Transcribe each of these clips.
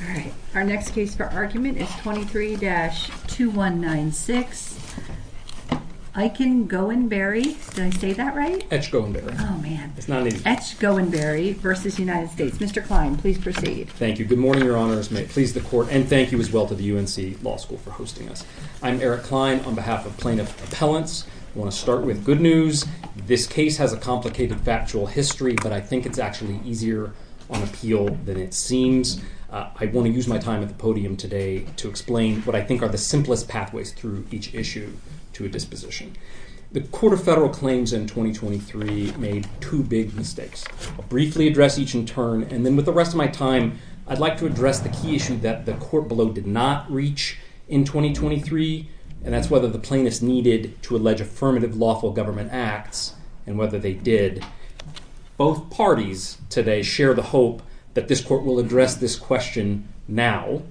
All right. Our next case for argument is 23-2196, Eichengoinberry. Did I say that right? Etchgoinberry. Oh, man. It's not an easy one. Etchgoinberry v. United States. Mr. Klein, please proceed. Thank you. Good morning, Your Honors. May it please the Court, and thank you as well to the UNC Law School for hosting us. I'm Eric Klein on behalf of Plaintiff Appellants. I want to start with good news. This case has a complicated factual history, but I think it's actually easier on appeal than it seems. I want to use my time at the podium today to explain what I think are the simplest pathways through each issue to a disposition. The Court of Federal Claims in 2023 made two big mistakes. I'll briefly address each in turn, and then with the rest of my time, I'd like to address the key issue that the Court below did not reach in 2023, and that's whether the plaintiffs needed to allege affirmative lawful government acts and whether they did. Both parties today share the hope that this Court will address this question now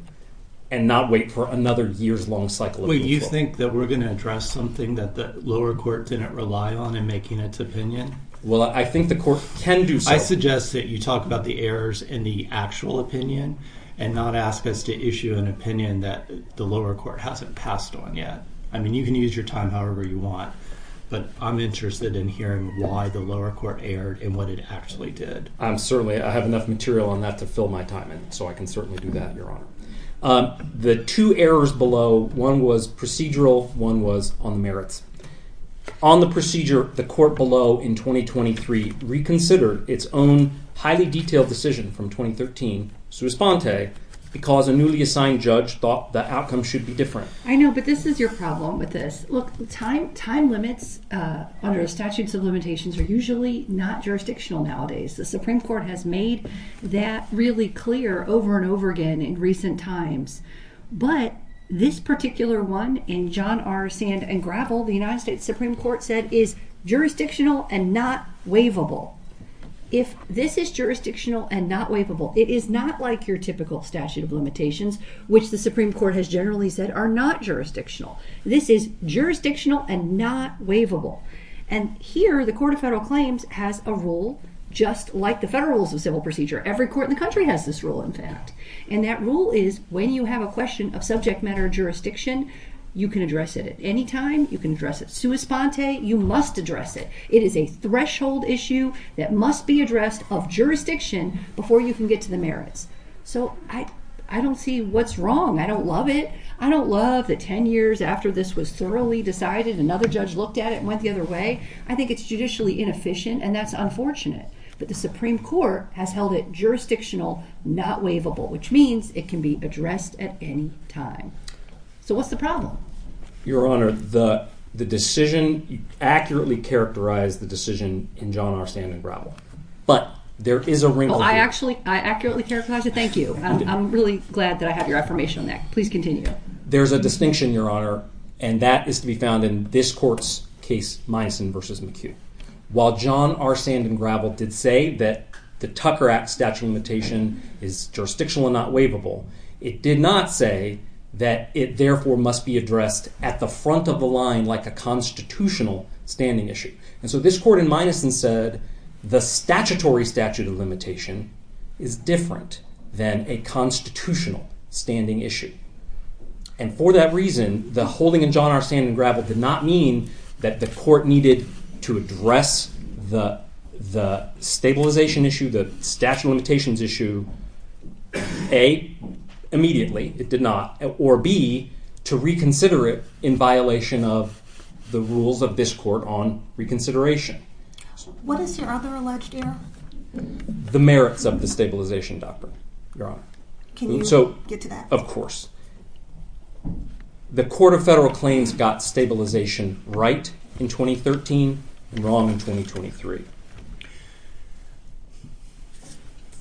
and not wait for another years-long cycle of default. Wait, you think that we're going to address something that the lower court didn't rely on in making its opinion? Well, I think the Court can do so. I suggest that you talk about the errors in the actual opinion and not ask us to issue an opinion that the lower court hasn't passed on yet. I mean, you can use your time however you want, but I'm interested in hearing why the lower court erred and what it actually did. Certainly, I have enough material on that to fill my time in, so I can certainly do that, Your Honor. The two errors below, one was procedural, one was on merits. On the procedure, the Court below in 2023 reconsidered its own highly detailed decision from 2013, sua sponte, because a newly assigned judge thought the outcome should be different. I know, but this is your problem with this. Look, time limits under statutes of limitations are usually not jurisdictional nowadays. The Supreme Court has made that really clear over and over again in recent times, but this particular one in John R. Sand and Gravel, the United States Supreme Court said is jurisdictional and not waivable. If this is jurisdictional and not waivable, it is not like your typical statute of limitations, which the Supreme Court has generally said are not jurisdictional. This is jurisdictional and not waivable. Here, the Court of Federal Claims has a rule just like the Federal Rules of Civil Procedure. Every court in the country has this rule, in fact. That rule is when you have a question of subject matter jurisdiction, you can address it at any time. You can address it sua sponte. You must address it. It is a threshold issue that must be addressed of jurisdiction before you can get to the merits. So, I don't see what's wrong. I don't love it. I don't love that 10 years after this was thoroughly decided, another judge looked at it and went the other way. I think it's judicially inefficient and that's unfortunate, but the Supreme Court has held it jurisdictional, not waivable, which means it can be addressed at any time. So, what's the problem? Your Honor, the decision accurately characterized the decision in John R. Sand and Gravel, but there is a wrinkle. I actually, I accurately characterized it. Thank you. I'm really glad that I have your affirmation on that. Please continue. There's a distinction, Your Honor, and that is to be found in this court's case, Minuson v. McHugh. While John R. Sand and Gravel did say that the Tucker Act Statute of Limitation is jurisdictional and not waivable, it did not say that it therefore must be addressed at the front of the line like a constitutional standing issue. And so, this court in Minuson said the statutory statute of limitation is different than a constitutional standing issue. And for that reason, the holding in John R. Sand and Gravel did not mean that the court needed to address the stabilization issue, the statute of limitations issue, A, immediately, it did not, or B, to reconsider it in violation of the rules of this court on reconsideration. What is your other alleged error? The merits of the stabilization doctrine, Your Honor. Can you get to that? Of course. The Court of Federal Claims got stabilization right in 2013 and wrong in 2023.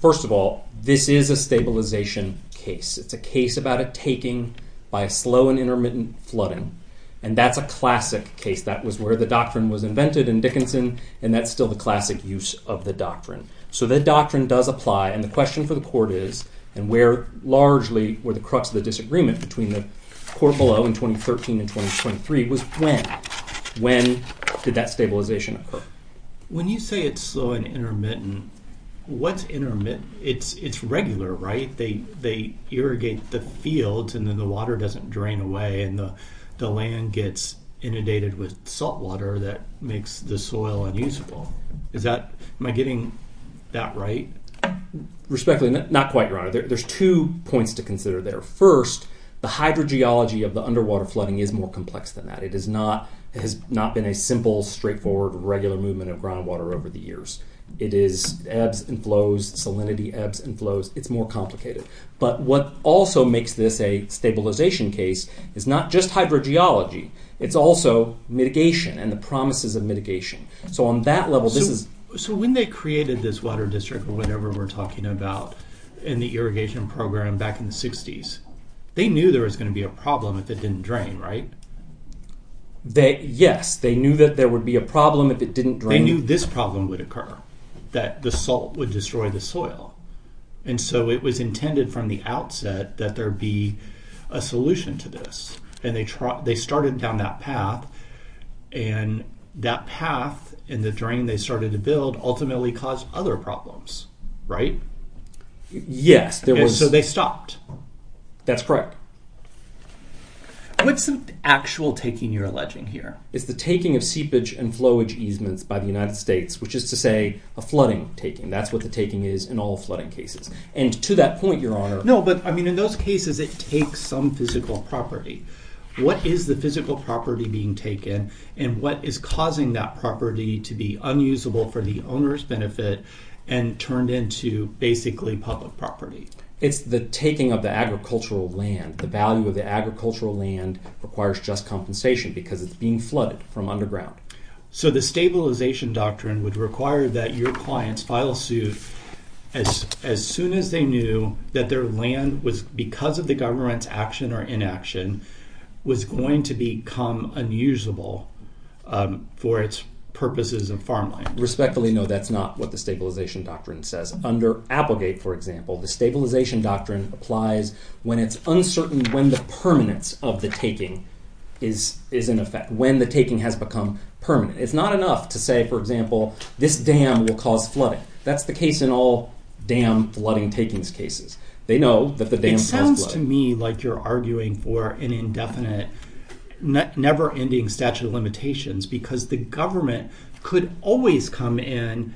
First of all, this is a stabilization case. It's a case about a taking by a slow and intermittent flooding, and that's a classic case. That was where the doctrine was invented in Dickinson, and that's still the classic use of the doctrine. So, the doctrine does apply, and the question for the court is, and where largely were the crux of the disagreement between the court below in 2013 and 2023 was when? When did that stabilization occur? When you say it's slow and intermittent, what's intermittent? It's regular, right? They irrigate the fields, and then the water doesn't drain away, and the land gets inundated with salt water that makes the soil unusable. Am I getting that right? Respectfully, not quite, Your Honor. There's two points to consider there. First, the hydrogeology of the underwater flooding is more complex than that. It has not been a simple, straightforward, regular movement of groundwater over the years. It is ebbs and flows, salinity ebbs and flows. It's more complicated, but what also makes this a stabilization case is not just hydrogeology. It's also mitigation and the promises of mitigation. So, on that level, this is... So, when they created this water district or whatever we're talking about in the irrigation program back in the 60s, they knew there was going to be a problem if it didn't drain, right? Yes. They knew that there would be a problem if it didn't drain. They knew this problem would occur, that the salt would destroy the soil, and so it was intended from the outset that there be a solution to this, and they started down that path, and that path and the drain they started to build ultimately caused other problems, right? Yes, there was... And so they stopped. That's correct. What's the actual taking you're alleging here? It's the taking of seepage and flowage easements by the United States, which is to say a flooding taking. That's what the taking is in all flooding cases. And to that point, Your Honor... No, but I mean, in those cases, it takes some physical property. What is the physical property being taken, and what is causing that property to be unusable for the owner's benefit and turned into basically public property? It's the taking of the agricultural land. The value of the agricultural land requires just compensation because it's being flooded from underground. So the Stabilization Doctrine would require that your clients file suit as soon as they knew that their land was, because of the government's action or inaction, was going to become unusable for its purposes of farmland. Respectfully, no, that's not what the Stabilization Doctrine says. Under Applegate, for example, the Stabilization Doctrine applies when it's uncertain when the permanence of the taking is in effect, when the taking has become permanent. It's not enough to say, for example, this dam will cause flooding. That's the case in all dam flooding takings cases. They know that the dam has flooded. It sounds to me like you're arguing for an indefinite, never ending statute of limitations because the government could always come in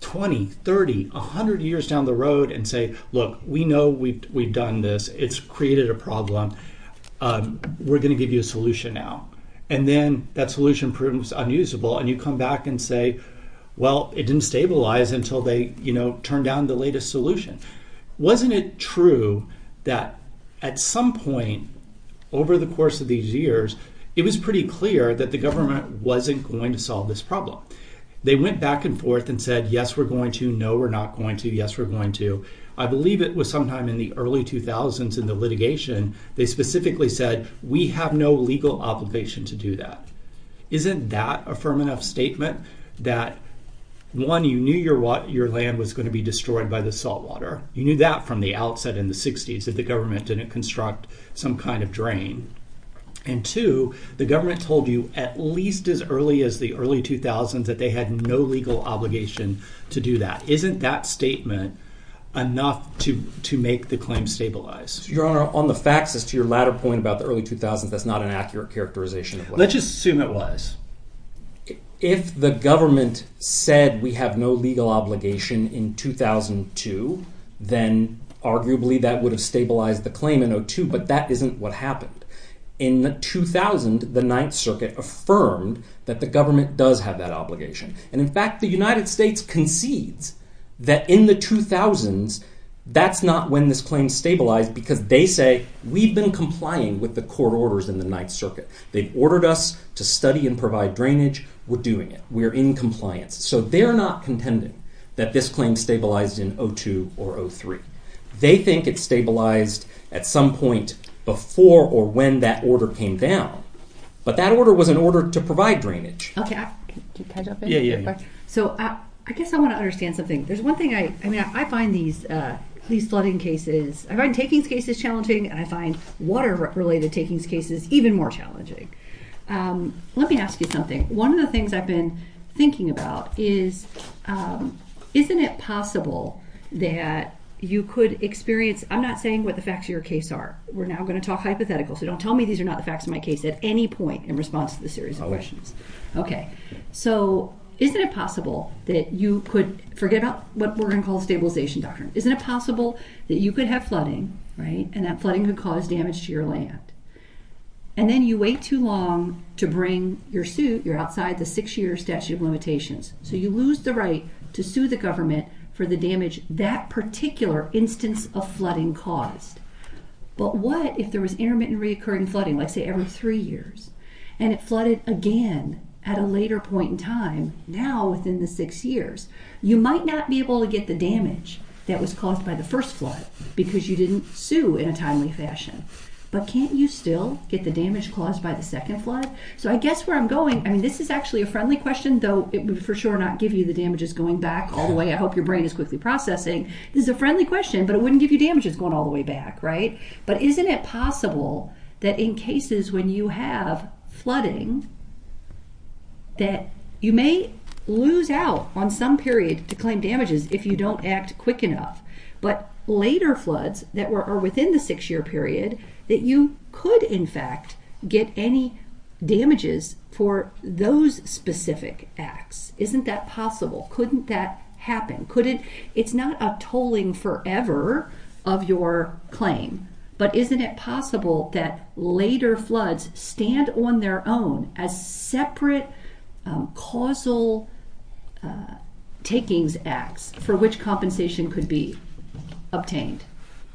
20, 30, 100 years down the road and say, look, we know we've done this. It's created a problem. We're going to give you a solution now. And then that solution proves unusable and you come back and say, well, it didn't stabilize until they turned down the latest solution. Wasn't it true that at some point over the course of these years, it was pretty clear that the back and forth and said, yes, we're going to, no, we're not going to, yes, we're going to. I believe it was sometime in the early 2000s in the litigation, they specifically said, we have no legal obligation to do that. Isn't that a firm enough statement that, one, you knew your land was going to be destroyed by the saltwater? You knew that from the outset in the 60s that the government didn't construct some kind of drain. And two, the government told you at least as early as the early 2000s that they had no legal obligation to do that. Isn't that statement enough to make the claim stabilize? Your Honor, on the facts as to your latter point about the early 2000s, that's not an accurate characterization. Let's just assume it was. If the government said we have no legal obligation in 2002, then arguably that would stabilize the claim in 2002, but that isn't what happened. In the 2000, the Ninth Circuit affirmed that the government does have that obligation. And in fact, the United States concedes that in the 2000s, that's not when this claim stabilized because they say, we've been complying with the court orders in the Ninth Circuit. They've ordered us to study and provide drainage. We're doing it. We're in compliance. So they're not contending that this claim stabilized in 2002 or 03. They think it stabilized at some point before or when that order came down, but that order was an order to provide drainage. Okay, can I jump in? Yeah, yeah. So I guess I want to understand something. There's one thing I mean, I find these flooding cases, I find takings cases challenging, and I find water-related takings cases even more challenging. Let me ask you something. One of the things I've been thinking about is, isn't it possible that you could experience... I'm not saying what the facts of your case are. We're now going to talk hypothetical, so don't tell me these are not the facts of my case at any point in response to this series of questions. Okay. So isn't it possible that you could... Forget about what we're going to call stabilization doctrine. Isn't it possible that you could have flooding, right? And that flooding would cause damage to your land. And then you wait too long to bring your suit, you're outside the six-year statute of limitations. So you lose the right to sue the government for the damage that particular instance of flooding caused. But what if there was intermittent reoccurring flooding, let's say every three years, and it flooded again at a later point in time, now within the six years? You might not be able to get the damage that was caused by the first flood, because you didn't sue in a timely fashion. But can't you still get the damage caused by the second flood? So I guess where I'm going, I mean this is actually a friendly question, though it would for sure not give you the damages going back all the way. I hope your brain is quickly processing. This is a friendly question, but it wouldn't give you damages going all the way back, right? But isn't it possible that in cases when you have flooding, that you may lose out on some period to claim damages if you don't act quick enough. But later floods that are within the six-year period, that you could in fact get any damages for those specific acts. Isn't that possible? Couldn't that happen? It's not a tolling forever of your claim, but isn't it possible that later floods stand on their own as separate causal takings acts for which compensation could be obtained?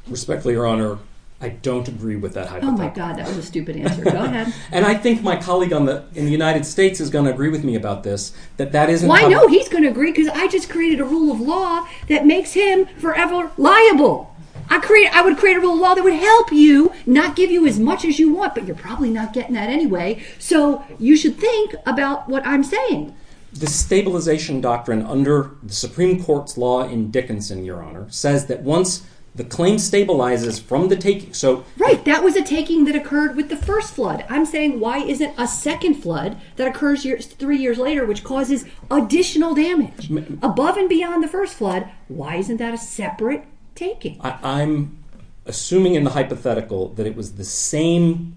Respectfully, Your Honor, I don't agree with that. Oh my God, that was a stupid answer. Go ahead. And I think my colleague in the United States is going to agree with me about this, that that isn't... Well, I know he's going to agree, because I just created a rule of law that makes him forever liable. I would create a rule of law that would help you, not give you as much as you want, but you're probably not getting that anyway. So you should think about what I'm saying. The stabilization doctrine under the Supreme Court's law in Dickinson, Your Honor, says that once the claim stabilizes from the taking, so... Right, that was a taking that occurred with the first flood. I'm saying why isn't a second flood that occurs three years later, which causes additional damage above and beyond the first flood, why isn't that a separate taking? I'm assuming in the hypothetical that it was the same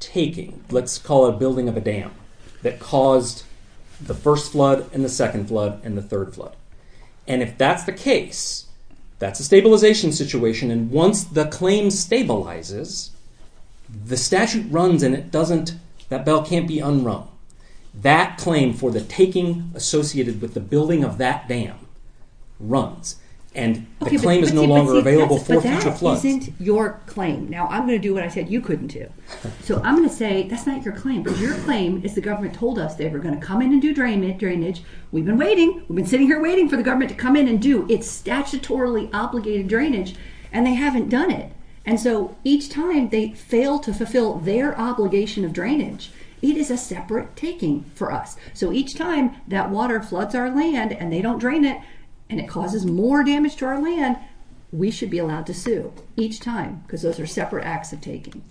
taking, let's call it building of a dam, that caused the first flood, and the second flood, and the third flood. And if that's the case, that's a stabilization situation. And once the claim stabilizes, the statute runs and it doesn't... That bell can't be unrung. That claim for the taking associated with the building of that dam runs. And the claim is no longer available for future floods. But that isn't your claim. Now, I'm going to do what I said you couldn't do. So I'm going to say that's not your claim. But your claim is the government told us they were going to come in and do drainage. We've been waiting. We've been sitting here waiting for the government to come in and do its statutorily obligated drainage, and they haven't done it. And so each time they fail to fulfill their obligation of drainage, it is a separate taking for us. So each time that water floods our land and they don't drain it, it causes more damage to our land, we should be allowed to sue each time because those are separate acts of taking.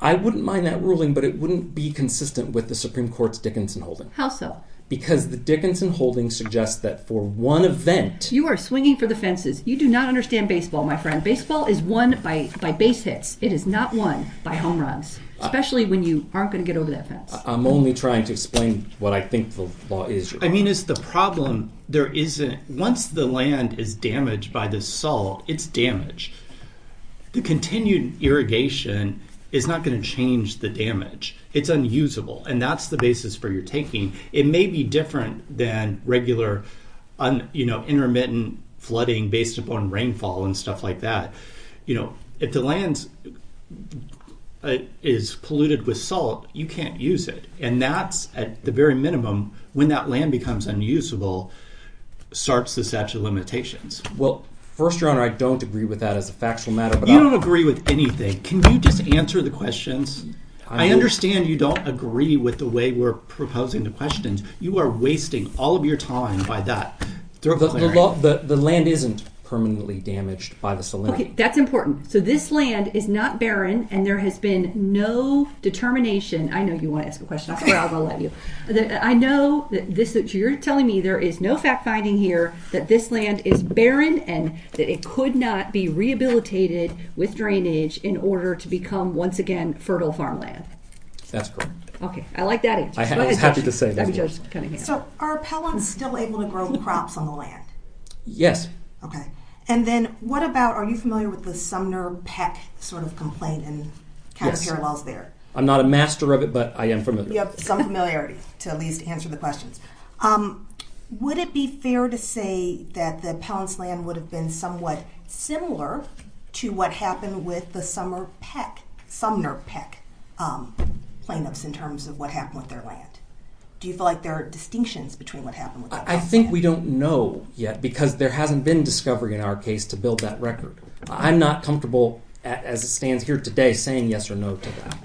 I wouldn't mind that ruling, but it wouldn't be consistent with the Supreme Court's Dickinson holding. How so? Because the Dickinson holding suggests that for one event... You are swinging for the fences. You do not understand baseball, my friend. Baseball is won by base hits. It is not won by home runs, especially when you aren't going to get over that fence. I'm only trying to explain what I think the law is. I mean, it's the problem. Once the land is damaged by the salt, it's damaged. The continued irrigation is not going to change the damage. It's unusable. And that's the basis for your taking. It may be different than regular intermittent flooding based upon rainfall and stuff like that. If the land is polluted with salt, you can't use it. And that's at the very point where the land becomes unusable, starts the statute of limitations. Well, First Your Honor, I don't agree with that as a factual matter. You don't agree with anything. Can you just answer the questions? I understand you don't agree with the way we're proposing the questions. You are wasting all of your time by that. The land isn't permanently damaged by the salinity. Okay, that's important. So this land is not barren and there has been no determination. I know you are telling me there is no fact finding here that this land is barren and that it could not be rehabilitated with drainage in order to become, once again, fertile farmland. That's correct. Okay, I like that answer. I was happy to say that. So are pellets still able to grow crops on the land? Yes. Okay. And then what about, are you familiar with the Sumner-Peck sort of complaint and kind of parallels there? I'm not a master of it, but I am familiar. You have some familiarity to at least answer the questions. Would it be fair to say that the pellets land would have been somewhat similar to what happened with the Sumner-Peck plaintiffs in terms of what happened with their land? Do you feel like there are distinctions between what happened with their land? I think we don't know yet because there hasn't been discovery in our case to build that record. I'm not comfortable, as it stands here today, saying yes or no to that.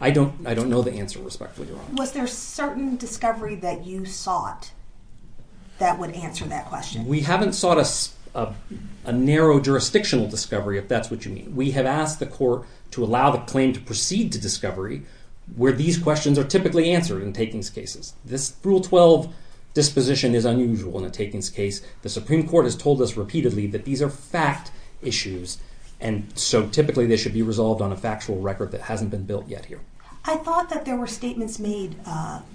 I don't know the answer, respectfully, Your Honor. Was there certain discovery that you sought that would answer that question? We haven't sought a narrow jurisdictional discovery, if that's what you mean. We have asked the court to allow the claim to proceed to discovery where these questions are typically answered in takings cases. This Rule 12 disposition is unusual in a takings case. The Supreme Court has told us repeatedly that these are fact issues, and so typically they should be resolved on a factual record that hasn't been built yet here. I thought that there were statements made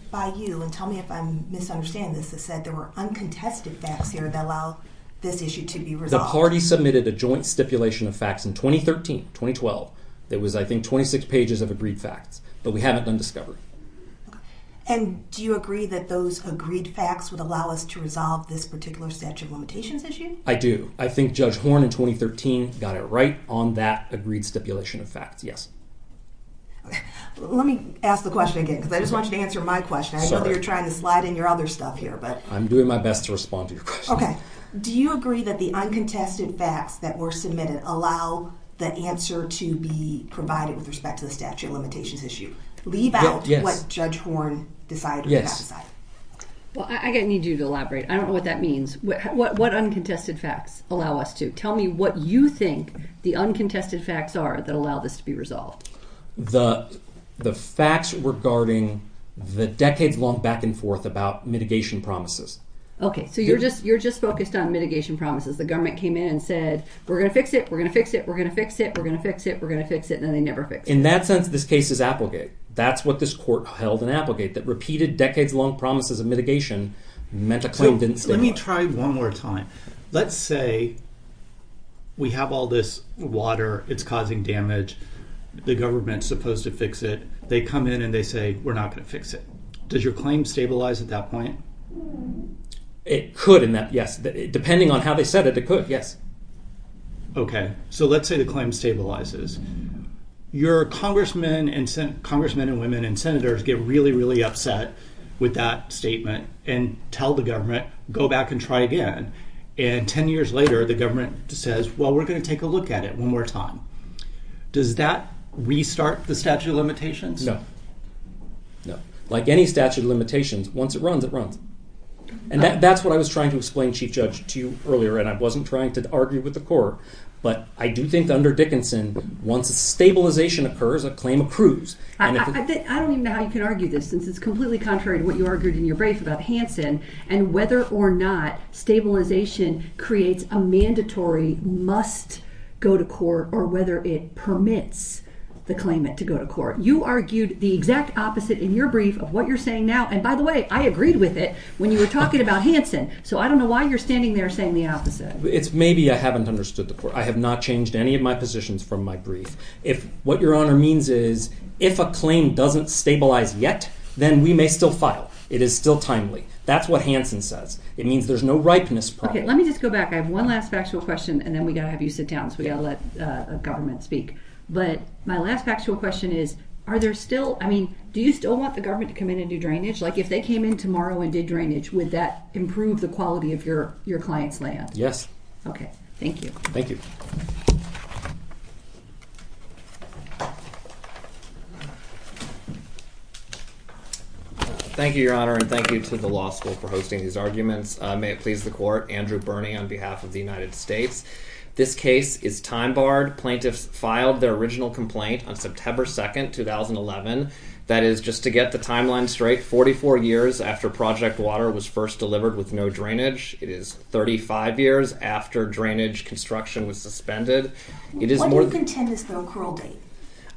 by you, and tell me if I'm misunderstanding this, that said there were uncontested facts here that allow this issue to be resolved. The party submitted a joint stipulation of facts in 2013, 2012. There was, I think, 26 pages of agreed facts, but we haven't done discovery. And do you agree that those agreed facts would allow us to resolve this particular statute of limitations issue? I do. I think Judge Horn in 2013 got it right on that agreed stipulation of facts, yes. Okay, let me ask the question again, because I just want you to answer my question. I know that you're trying to slide in your other stuff here, but... I'm doing my best to respond to your question. Do you agree that the uncontested facts that were submitted allow the answer to be provided with respect to the statute of limitations issue? Leave out what Judge Horn decided or did not decide. Yes. Well, I need you to elaborate. I don't know what that means. What uncontested facts allow us to? Tell me what you think the uncontested facts are that allow this to be resolved. The facts regarding the decades-long back and forth about mitigation promises. Okay, so you're just focused on mitigation promises. The government came in and said, we're going to fix it, we're going to fix it, we're going to fix it, we're going to fix it, we're going to fix it, and then they never fixed it. In that sense, this case is applicant. That's what this court held in applicant, that repeated decades-long promises of mitigation meant the claim didn't stand up. Let me try one more time. Let's say we have all this water. It's causing damage. The government's supposed to fix it. They come in and they say, we're not going to fix it. Does your claim stabilize at that point? It could in that, yes. Depending on how they said it, it could, yes. Okay, so let's say the claim stabilizes. Your congressmen and women and senators get really, really upset with that statement and tell the government, go back and try again. Ten years later, the government says, well, we're going to take a look at it one more time. Does that restart the statute of limitations? No, no. Like any statute of limitations, once it runs, it runs. That's what I was trying to explain, Chief Judge, to you earlier, and I wasn't trying to argue with the court, but I do think under Dickinson, once a stabilization occurs, a claim accrues. I don't even know how you can argue this, since it's completely contrary to what you argued in your brief about Hansen and whether or not stabilization creates a mandatory must go to court or whether it permits the claimant to go to court. You argued the exact opposite in your brief of what you're saying now, and by the way, I agreed with it when you were talking about Hansen, so I don't know why you're standing there saying the opposite. It's maybe I haven't understood the court. I have not changed any of my positions from my brief. What your honor means is, if a claim doesn't stabilize yet, then we may still file. It is still timely. That's what Hansen says. It means there's no ripeness prior. Okay, let me just go back. I have one last factual question, and then we got to have you sit down, so we got to let government speak, but my last factual question is, are there still... I mean, do you still want the government to come in and do drainage? Like, if they came in tomorrow and did drainage, would that improve the quality of your client's land? Yes. Okay. Thank you. Thank you. Thank you, your honor, and thank you to the law school for hosting these arguments. May it please the court. Andrew Bernie on behalf of the United States. This case is time barred. Plaintiffs filed their original complaint on September 2nd, 2011. That is, just to get the timeline straight, 44 years after Project Water was first delivered with no drainage. It is 35 years after drainage construction was suspended. When do you contend is the accrual date?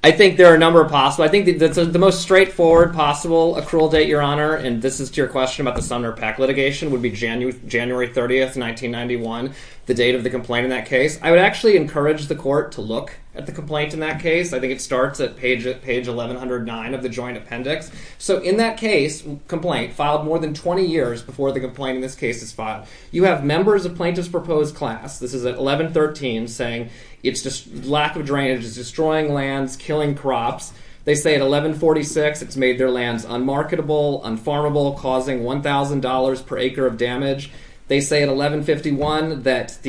I think there are a number of possible... I think the most straightforward possible accrual date, your honor, and this is to your question about the Sumner PAC litigation, would be January 30th, 1991, the date of the complaint in that case. I would actually encourage the court to look at the complaint in that case. I think it starts at page 1109 of the joint appendix, so in that case, complaint filed more than 20 years before the complaint in this case is filed. You have members of plaintiff's proposed class, this is at 1113, saying lack of drainage is destroying lands, killing crops. They say at 1146, it's made their lands unmarketable, unfarmable, causing $1,000 per acre of damage. They say at 1151 that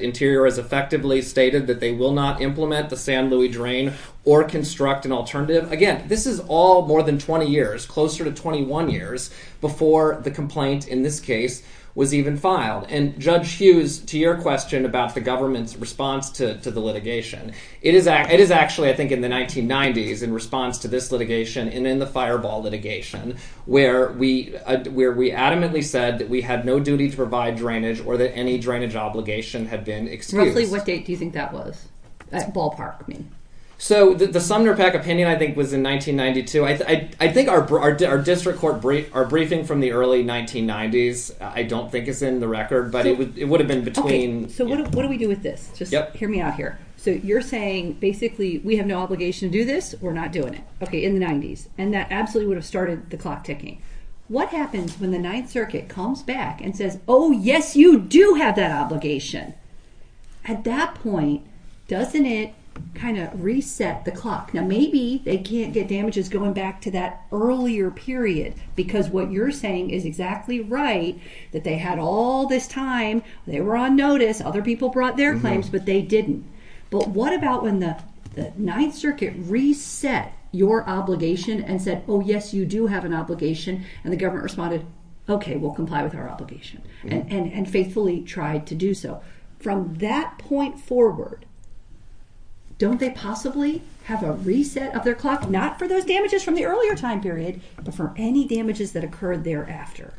Interior has effectively stated that they will not implement the San Luis Drain or construct an alternative. Again, this is all more than 20 years, closer to 21 years before the complaint in this case was even filed. And Judge Hughes, to your question about the government's response to the litigation, it is actually, I think, in the 1990s, in response to this litigation and in the Fireball litigation, where we adamantly said that we had no duty to provide drainage or that any drainage obligation had been excused. Roughly what date do you think that was? That's ballpark, I mean. So the Sumner PAC opinion, I think, was in 1992. I think our district court briefing from the early 1990s, I don't think is in the record, but it would have been between... Okay, so what do we do with this? Just hear me out here. So you're saying, basically, we have no obligation to do this, we're not doing it. Okay, in the 90s. And that absolutely would have started the clock ticking. What happens when the Ninth Circuit comes back and says, oh, yes, you do have that obligation? At that point, doesn't it kind of reset the clock? Now, maybe they can't get damages going back to that earlier period, because what you're saying is exactly right, that they had all this time, they were on notice, other people brought their claims, but they didn't. But what about when the Ninth Circuit reset your obligation and said, oh, yes, you do have an obligation, and the government responded, okay, we'll comply with our obligation and faithfully tried to do so. From that point forward, don't they possibly have a reset of their clock, not for those damages from the earlier time period, but for any damages that occurred thereafter?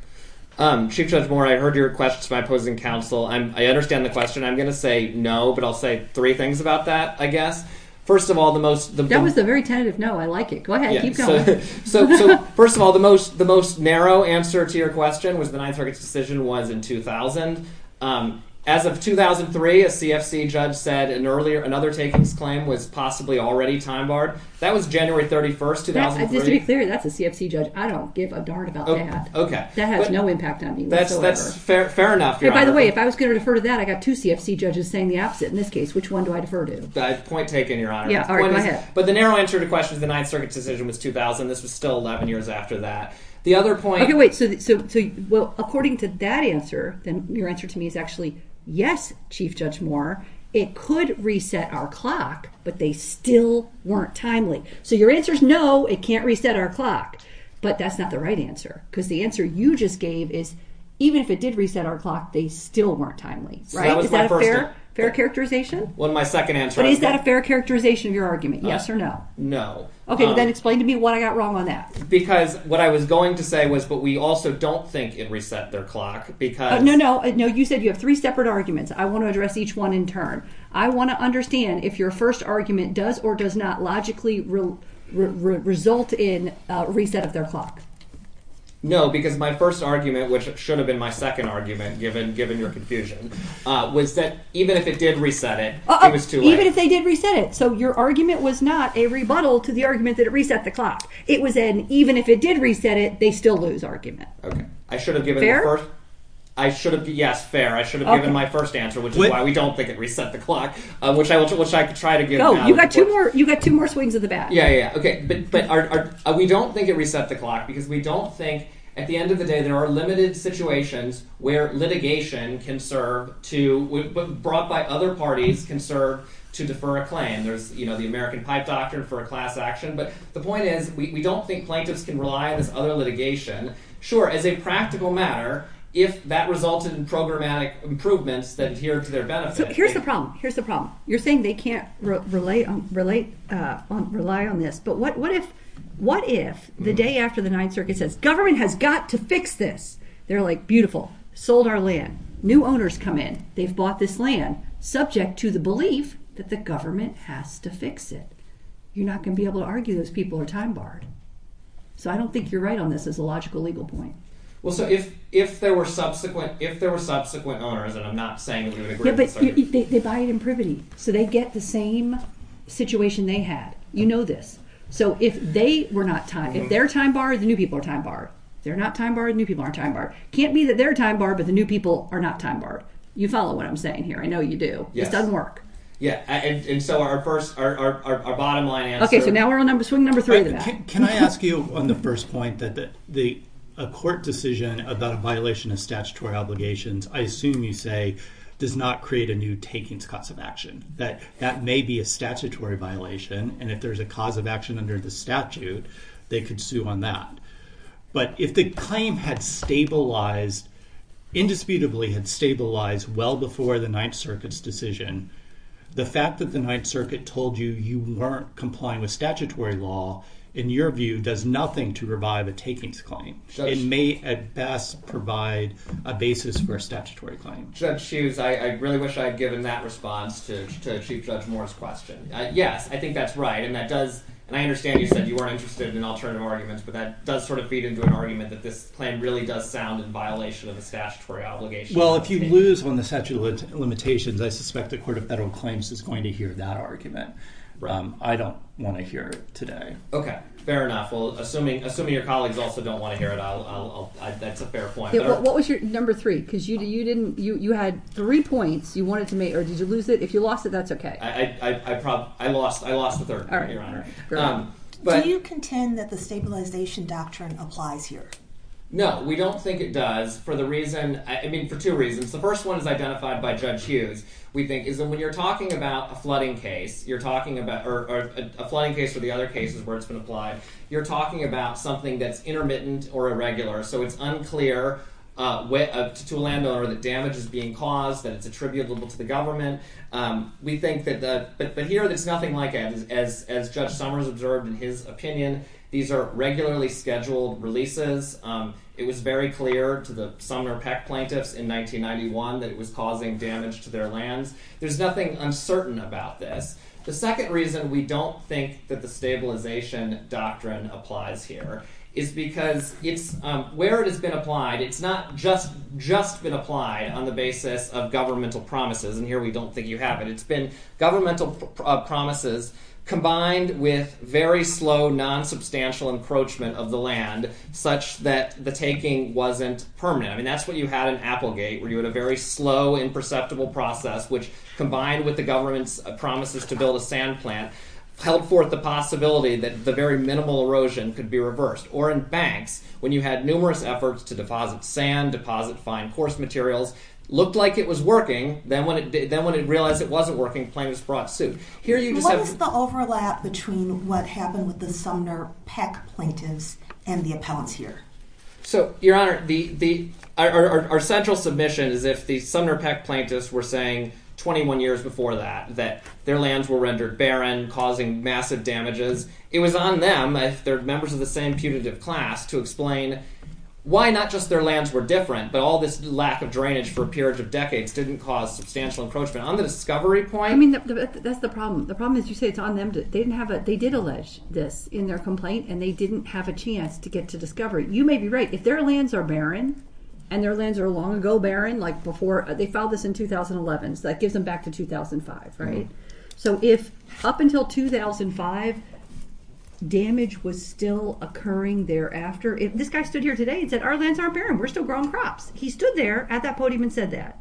Chief Judge Moore, I heard your question to my opposing counsel. I understand the question. I'm going to say no, but I'll say three things about that, I guess. First of all, the most... That was a very tentative no, I like it. Go ahead, keep going. So first of all, the most narrow answer to your question was the Ninth Circuit's decision was in 2000. As of 2003, a CFC judge said another takings claim was possibly already time barred. That was January 31st, 2003. Just to be clear, that's a CFC judge. I don't give a darn about that. Okay. That has no impact on me whatsoever. That's fair enough, Your Honor. By the way, if I was going to defer to that, I got two CFC judges saying the opposite in this case. Which one do I defer to? Point taken, Your Honor. Yeah, all right, go ahead. But the narrow answer to the question of the Ninth Circuit's decision was 2000. This was still 11 years after that. The other point... Okay, wait, so according to that answer, then your answer to me is actually, yes, Chief Judge Moore, it could reset our clock, but they still weren't timely. So your answer is no, it can't reset our clock. But that's not the right answer. Because the answer you just gave is, even if it did reset our clock, they still weren't timely, right? Is that a fair characterization? Well, my second answer... But is that a fair characterization of your argument? Yes or no? No. Okay, then explain to me what I got wrong on that. Because what I was going to say was, but we also don't think it reset their clock because... No, you said you have three separate arguments. I want to address each one in turn. I want to understand if your first argument does or does not logically result in a reset of their clock. No, because my first argument, which should have been my second argument, given your confusion, was that even if it did reset it, it was too late. Even if they did reset it. So your argument was not a rebuttal to the argument that it reset the clock. It was an even if it did reset it, they still lose argument. Okay, I should have given the first... I should have... Yes, fair. I should have given my first answer, which is why we don't think it reset the clock, which I could try to give... No, you got two more swings of the bat. Yeah, yeah. Okay, but we don't think it reset the clock because we don't think at the end of the day, there are limited situations where litigation can serve to... Brought by other parties can serve to defer a claim. There's, you know, the American Pipe Doctor for a class action. But the point is, we don't think plaintiffs can rely on this other litigation. Sure, as a practical matter, if that resulted in programmatic improvements that adhere to their benefit. Here's the problem. Here's the problem. You're saying they can't rely on this. But what if the day after the Ninth Circuit says, government has got to fix this. They're like, beautiful, sold our land. New owners come in. They've bought this land subject to the belief that the government has to fix it. You're not going to be able to argue those people are time barred. So I don't think you're right on this as a logical legal point. Well, so if there were subsequent owners, and I'm not saying... Yeah, but they buy it in privity. So they get the same situation they had. You know this. So if they were not time... If they're time barred, the new people are time barred. They're not time barred, new people aren't time barred. Can't be that they're time barred, but the new people are not time barred. You follow what I'm saying here. I know you do. This doesn't work. Yeah, and so our first, our bottom line answer... Okay, so now we're on swing number three. Can I ask you on the first point that a court decision about a violation of statutory obligations, I assume you say, does not create a new takings cost of action. That may be a statutory violation, and if there's a cause of action under the statute, they could sue on that. But if the claim had stabilized, indisputably had stabilized well before the Ninth Circuit's decision, the fact that the Ninth Circuit told you you weren't complying with statutory law, in your view, does nothing to revive a takings claim. It may at best provide a basis for a statutory claim. Judge Hughes, I really wish I had given that response to Chief Judge Moore's question. Yes, I think that's right, and that does... And I understand you said you weren't interested in alternative arguments, but that does sort of feed into an argument that this plan really does sound in violation of a statutory obligation. Well, if you lose on the statute of limitations, I suspect the Court of Federal Claims is going to hear that argument. I don't want to hear it today. Okay, fair enough. Well, assuming your colleagues also don't want to hear it, that's a fair point. What was your number three? Because you had three points you wanted to make, or did you lose it? If you lost it, that's okay. I lost the third one, Your Honor. Do you contend that the stabilization doctrine applies here? No, we don't think it does for the reason... I mean, for two reasons. The first one is identified by Judge Hughes, we think, is that when you're talking about a flooding case, you're talking about... Or a flooding case or the other cases where it's been applied, you're talking about something that's intermittent or irregular. So it's unclear to a landowner that damage is being caused, that it's attributable to the government. But here, there's nothing like it. As Judge Summers observed in his opinion, these are regularly scheduled releases. It was very clear to the Sumner Peck plaintiffs in 1991 that it was causing damage to their lands. There's nothing uncertain about this. The second reason we don't think that the stabilization doctrine applies here is because where it has been applied, it's not just been applied on the basis of governmental promises. And here, we don't think you have it. It's been governmental promises combined with very slow, non-substantial encroachment of the land, such that the taking wasn't permanent. I mean, that's what you had in Applegate, where you had a very slow, imperceptible process, which combined with the government's promises to build a sand plant, held forth the possibility that the very minimal erosion could be reversed. Or in banks, when you had numerous efforts to deposit sand, deposit fine coarse materials, looked like it was working. Then when it realized it wasn't working, plaintiffs brought suit. Here, you just have- What is the overlap between what happened with the Sumner Peck plaintiffs and the appellants here? So, Your Honor, our central submission is if the Sumner Peck plaintiffs were saying 21 years before that, that their lands were rendered barren, causing massive damages, it was on them, if they're members of the same putative class, to explain why not just their lands were different, but all this lack of drainage for a period of decades didn't cause substantial encroachment. On the discovery point- I mean, that's the problem. The problem is you say it's on them. They didn't have a- They did allege this in their complaint, and they didn't have a chance to get to discovery. You may be right. If their lands are barren, and their lands are long ago barren, like before- They filed this in 2011, so that gives them back to 2005, right? So, if up until 2005, damage was still occurring thereafter- This guy stood here today and said, our lands aren't barren. We're still growing crops. He stood there at that podium and said that.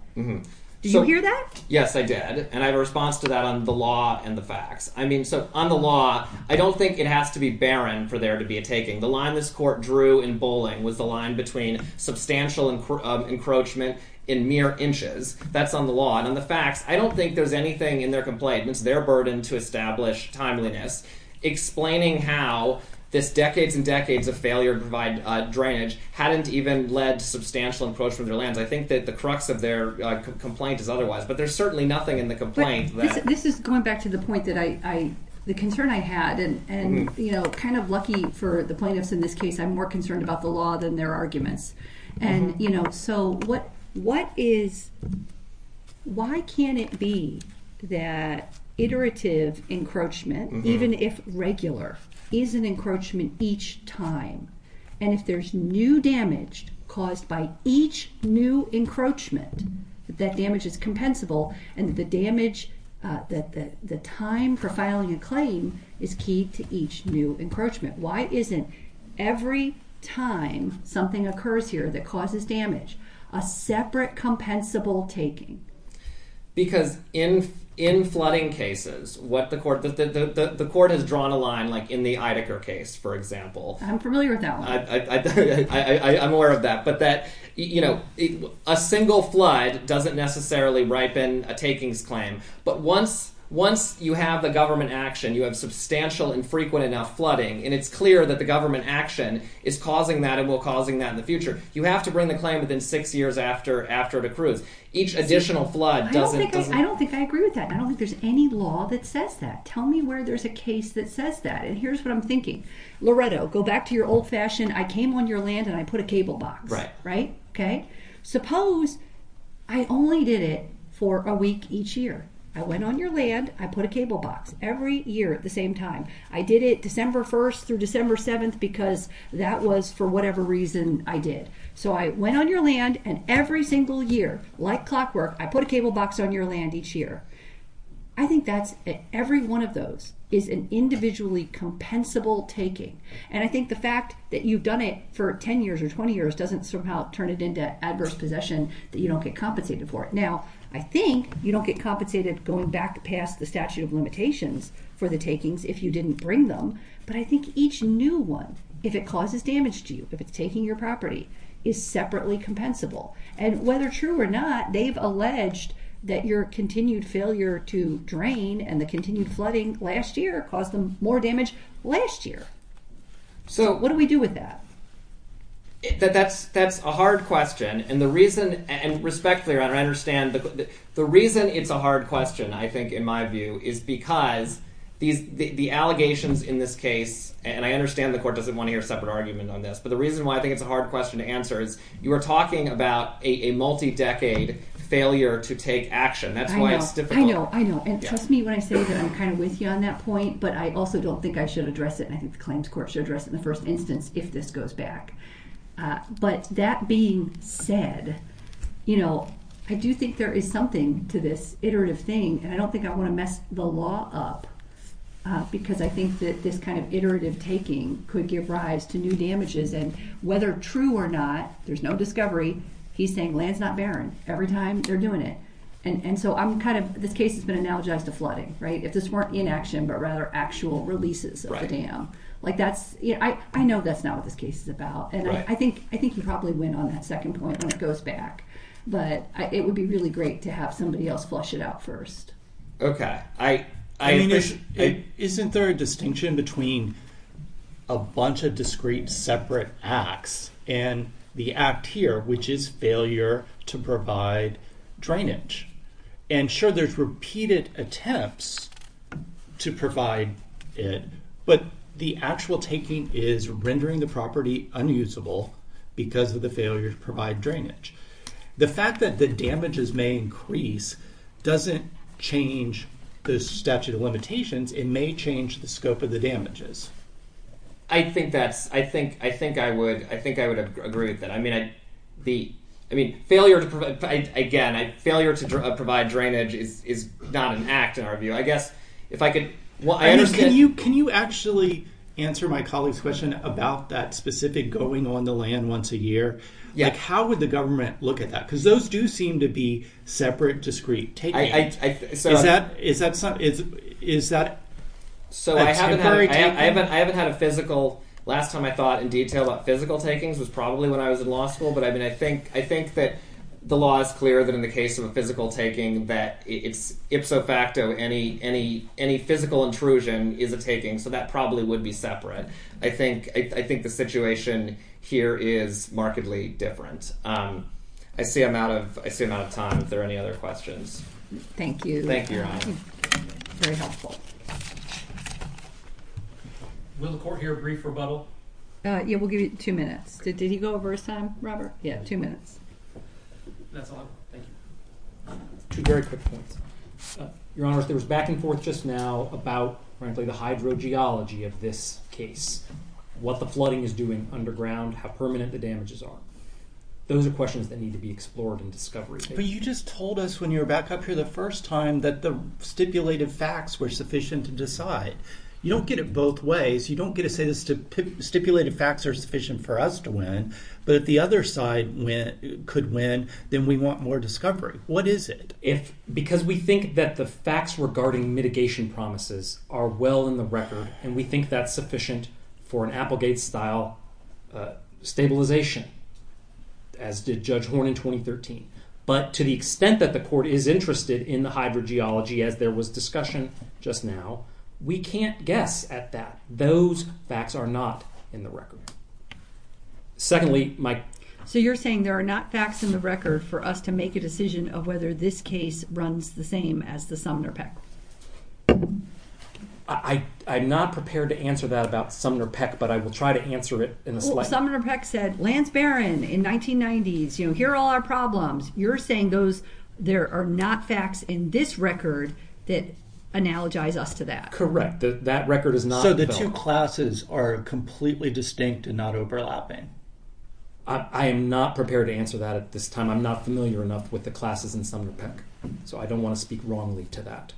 Did you hear that? Yes, I did. And I have a response to that on the law and the facts. I mean, so on the law, I don't think it has to be barren for there to be a taking. The line this court drew in Bowling was the line between substantial encroachment in mere inches. That's on the law. And on the facts, I don't think there's anything in their complaint. It's their burden to establish timeliness. Explaining how this decades and decades of failure to provide drainage hadn't even led to substantial encroachment of their lands. I think that the crux of their complaint is otherwise. But there's certainly nothing in the complaint that- This is going back to the point that I- And kind of lucky for the plaintiffs in this case, I'm more concerned about the law than their arguments. And so what is- Why can't it be that iterative encroachment, even if regular, is an encroachment each time? And if there's new damage caused by each new encroachment, that damage is compensable. And the damage, the time for filing a claim is key to each new encroachment. Why isn't every time something occurs here that causes damage, a separate compensable taking? Because in flooding cases, what the court- The court has drawn a line like in the Idaker case, for example. I'm familiar with that one. I'm aware of that. But a single flood doesn't necessarily ripen a takings claim. But once you have the government action, you have substantial and frequent enough flooding, and it's clear that the government action is causing that and will cause that in the future, you have to bring the claim within six years after it accrues. Each additional flood doesn't- I don't think I agree with that. I don't think there's any law that says that. Tell me where there's a case that says that. And here's what I'm thinking. Loretto, go back to your old fashion, I came on your land and I put a cable box. Suppose I only did it for a week each year. I went on your land, I put a cable box every year at the same time. I did it December 1st through December 7th because that was for whatever reason I did. So I went on your land and every single year, like clockwork, I put a cable box on your land each year. I think that's- every one of those is an individually compensable taking. And I think the fact that you've done it for 10 years or 20 years doesn't somehow turn it into adverse possession that you don't get compensated for it. Now, I think you don't get compensated going back past the statute of limitations for the takings if you didn't bring them. But I think each new one, if it causes damage to you, if it's taking your property, is separately compensable. And whether true or not, they've alleged that your continued failure to drain and the continued flooding last year caused them more damage last year. So what do we do with that? That's a hard question. And the reason, and respectfully, I understand, the reason it's a hard question, I think, in my view, is because the allegations in this case, and I understand the court doesn't want to hear a separate argument on this, but the reason why I think it's a hard question to answer is you are talking about a multi-decade failure to take action. That's why it's difficult. I know, I know. And trust me when I say that I'm kind of with you on that point, but I also don't think I should address it, and I think the claims court should address it in the first instance if this goes back. But that being said, you know, I do think there is something to this iterative thing, and I don't think I want to mess the law up because I think that this kind of iterative taking could give rise to new damages, and whether true or not, there's no discovery, he's saying land's not barren every time they're doing it. And so I'm kind of, this case has been analogized to flooding, right? If this weren't inaction, but rather actual releases of the dam. Like that's, you know, I know that's not what this case is about, and I think you probably win on that second point when it goes back, but it would be really great to have somebody else flush it out first. Okay. I mean, isn't there a distinction between a bunch of discrete separate acts and the act here, which is failure to provide drainage? And sure, there's repeated attempts to provide it, but the actual taking is rendering the property unusable because of the failure to provide drainage. The fact that the damages may increase doesn't change the statute of limitations, it may change the scope of the damages. I think that's, I think I would, I think I would agree with that. I mean, the, I mean, failure to provide, again, failure to provide drainage is not an act in our view. I guess if I could, well, I understand- Can you actually answer my colleague's question about that specific going on the land once a year? Yeah. How would the government look at that? Because those do seem to be separate discrete taking. I, so- Is that, is that, is that- So I haven't had a physical, last time I thought in detail about physical takings was probably when I was in law school, but I mean, I think that the law is clear that in the case of a physical taking that it's ipso facto, any physical intrusion is a taking, so that probably would be separate. I think, I think the situation here is markedly different. I see I'm out of, I see I'm out of time. If there are any other questions. Thank you. Thank you, Your Honor. Very helpful. Will the court hear a brief rebuttal? Yeah, we'll give you two minutes. Did he go over his time, Robert? Yeah, two minutes. That's all, thank you. Two very quick points. Your Honor, there was back and forth just now about, frankly, the hydrogeology of this case, what the flooding is doing underground, how permanent the damages are. Those are questions that need to be explored in discovery. But you just told us when you were back up here the first time that the stipulated facts were sufficient to decide. You don't get it both ways. You don't get to say the stipulated facts are sufficient for us to win, but if the other side could win, then we want more discovery. What is it? If, because we think that the facts regarding mitigation promises are well in the record and we think that's sufficient for an Applegate-style stabilization, as did Judge Horn in 2013. But to the extent that the court is interested in the hydrogeology, as there was discussion just now, we can't guess at that. Those facts are not in the record. Secondly, my- So you're saying there are not facts in the record for us to make a decision of whether this case runs the same as the Sumner PEC? I'm not prepared to answer that about Sumner PEC, but I will try to answer it in a- Sumner PEC said, Lance Barron in 1990s, you know, here are all our problems. You're saying those, there are not facts in this record that analogize us to that. Correct. That record is not- So the two classes are completely distinct and not overlapping. I am not prepared to answer that at this time. I'm not familiar enough with the classes in Sumner PEC. So I don't want to speak wrongly to that.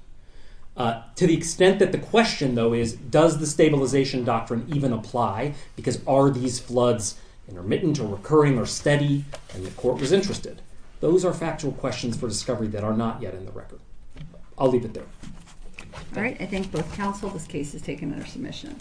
To the extent that the question though is, does the stabilization doctrine even apply? Because are these floods intermittent or recurring or steady? And the court was interested. Those are factual questions for discovery that are not yet in the record. I'll leave it there. All right. I thank both counsel. This case is taken under submission.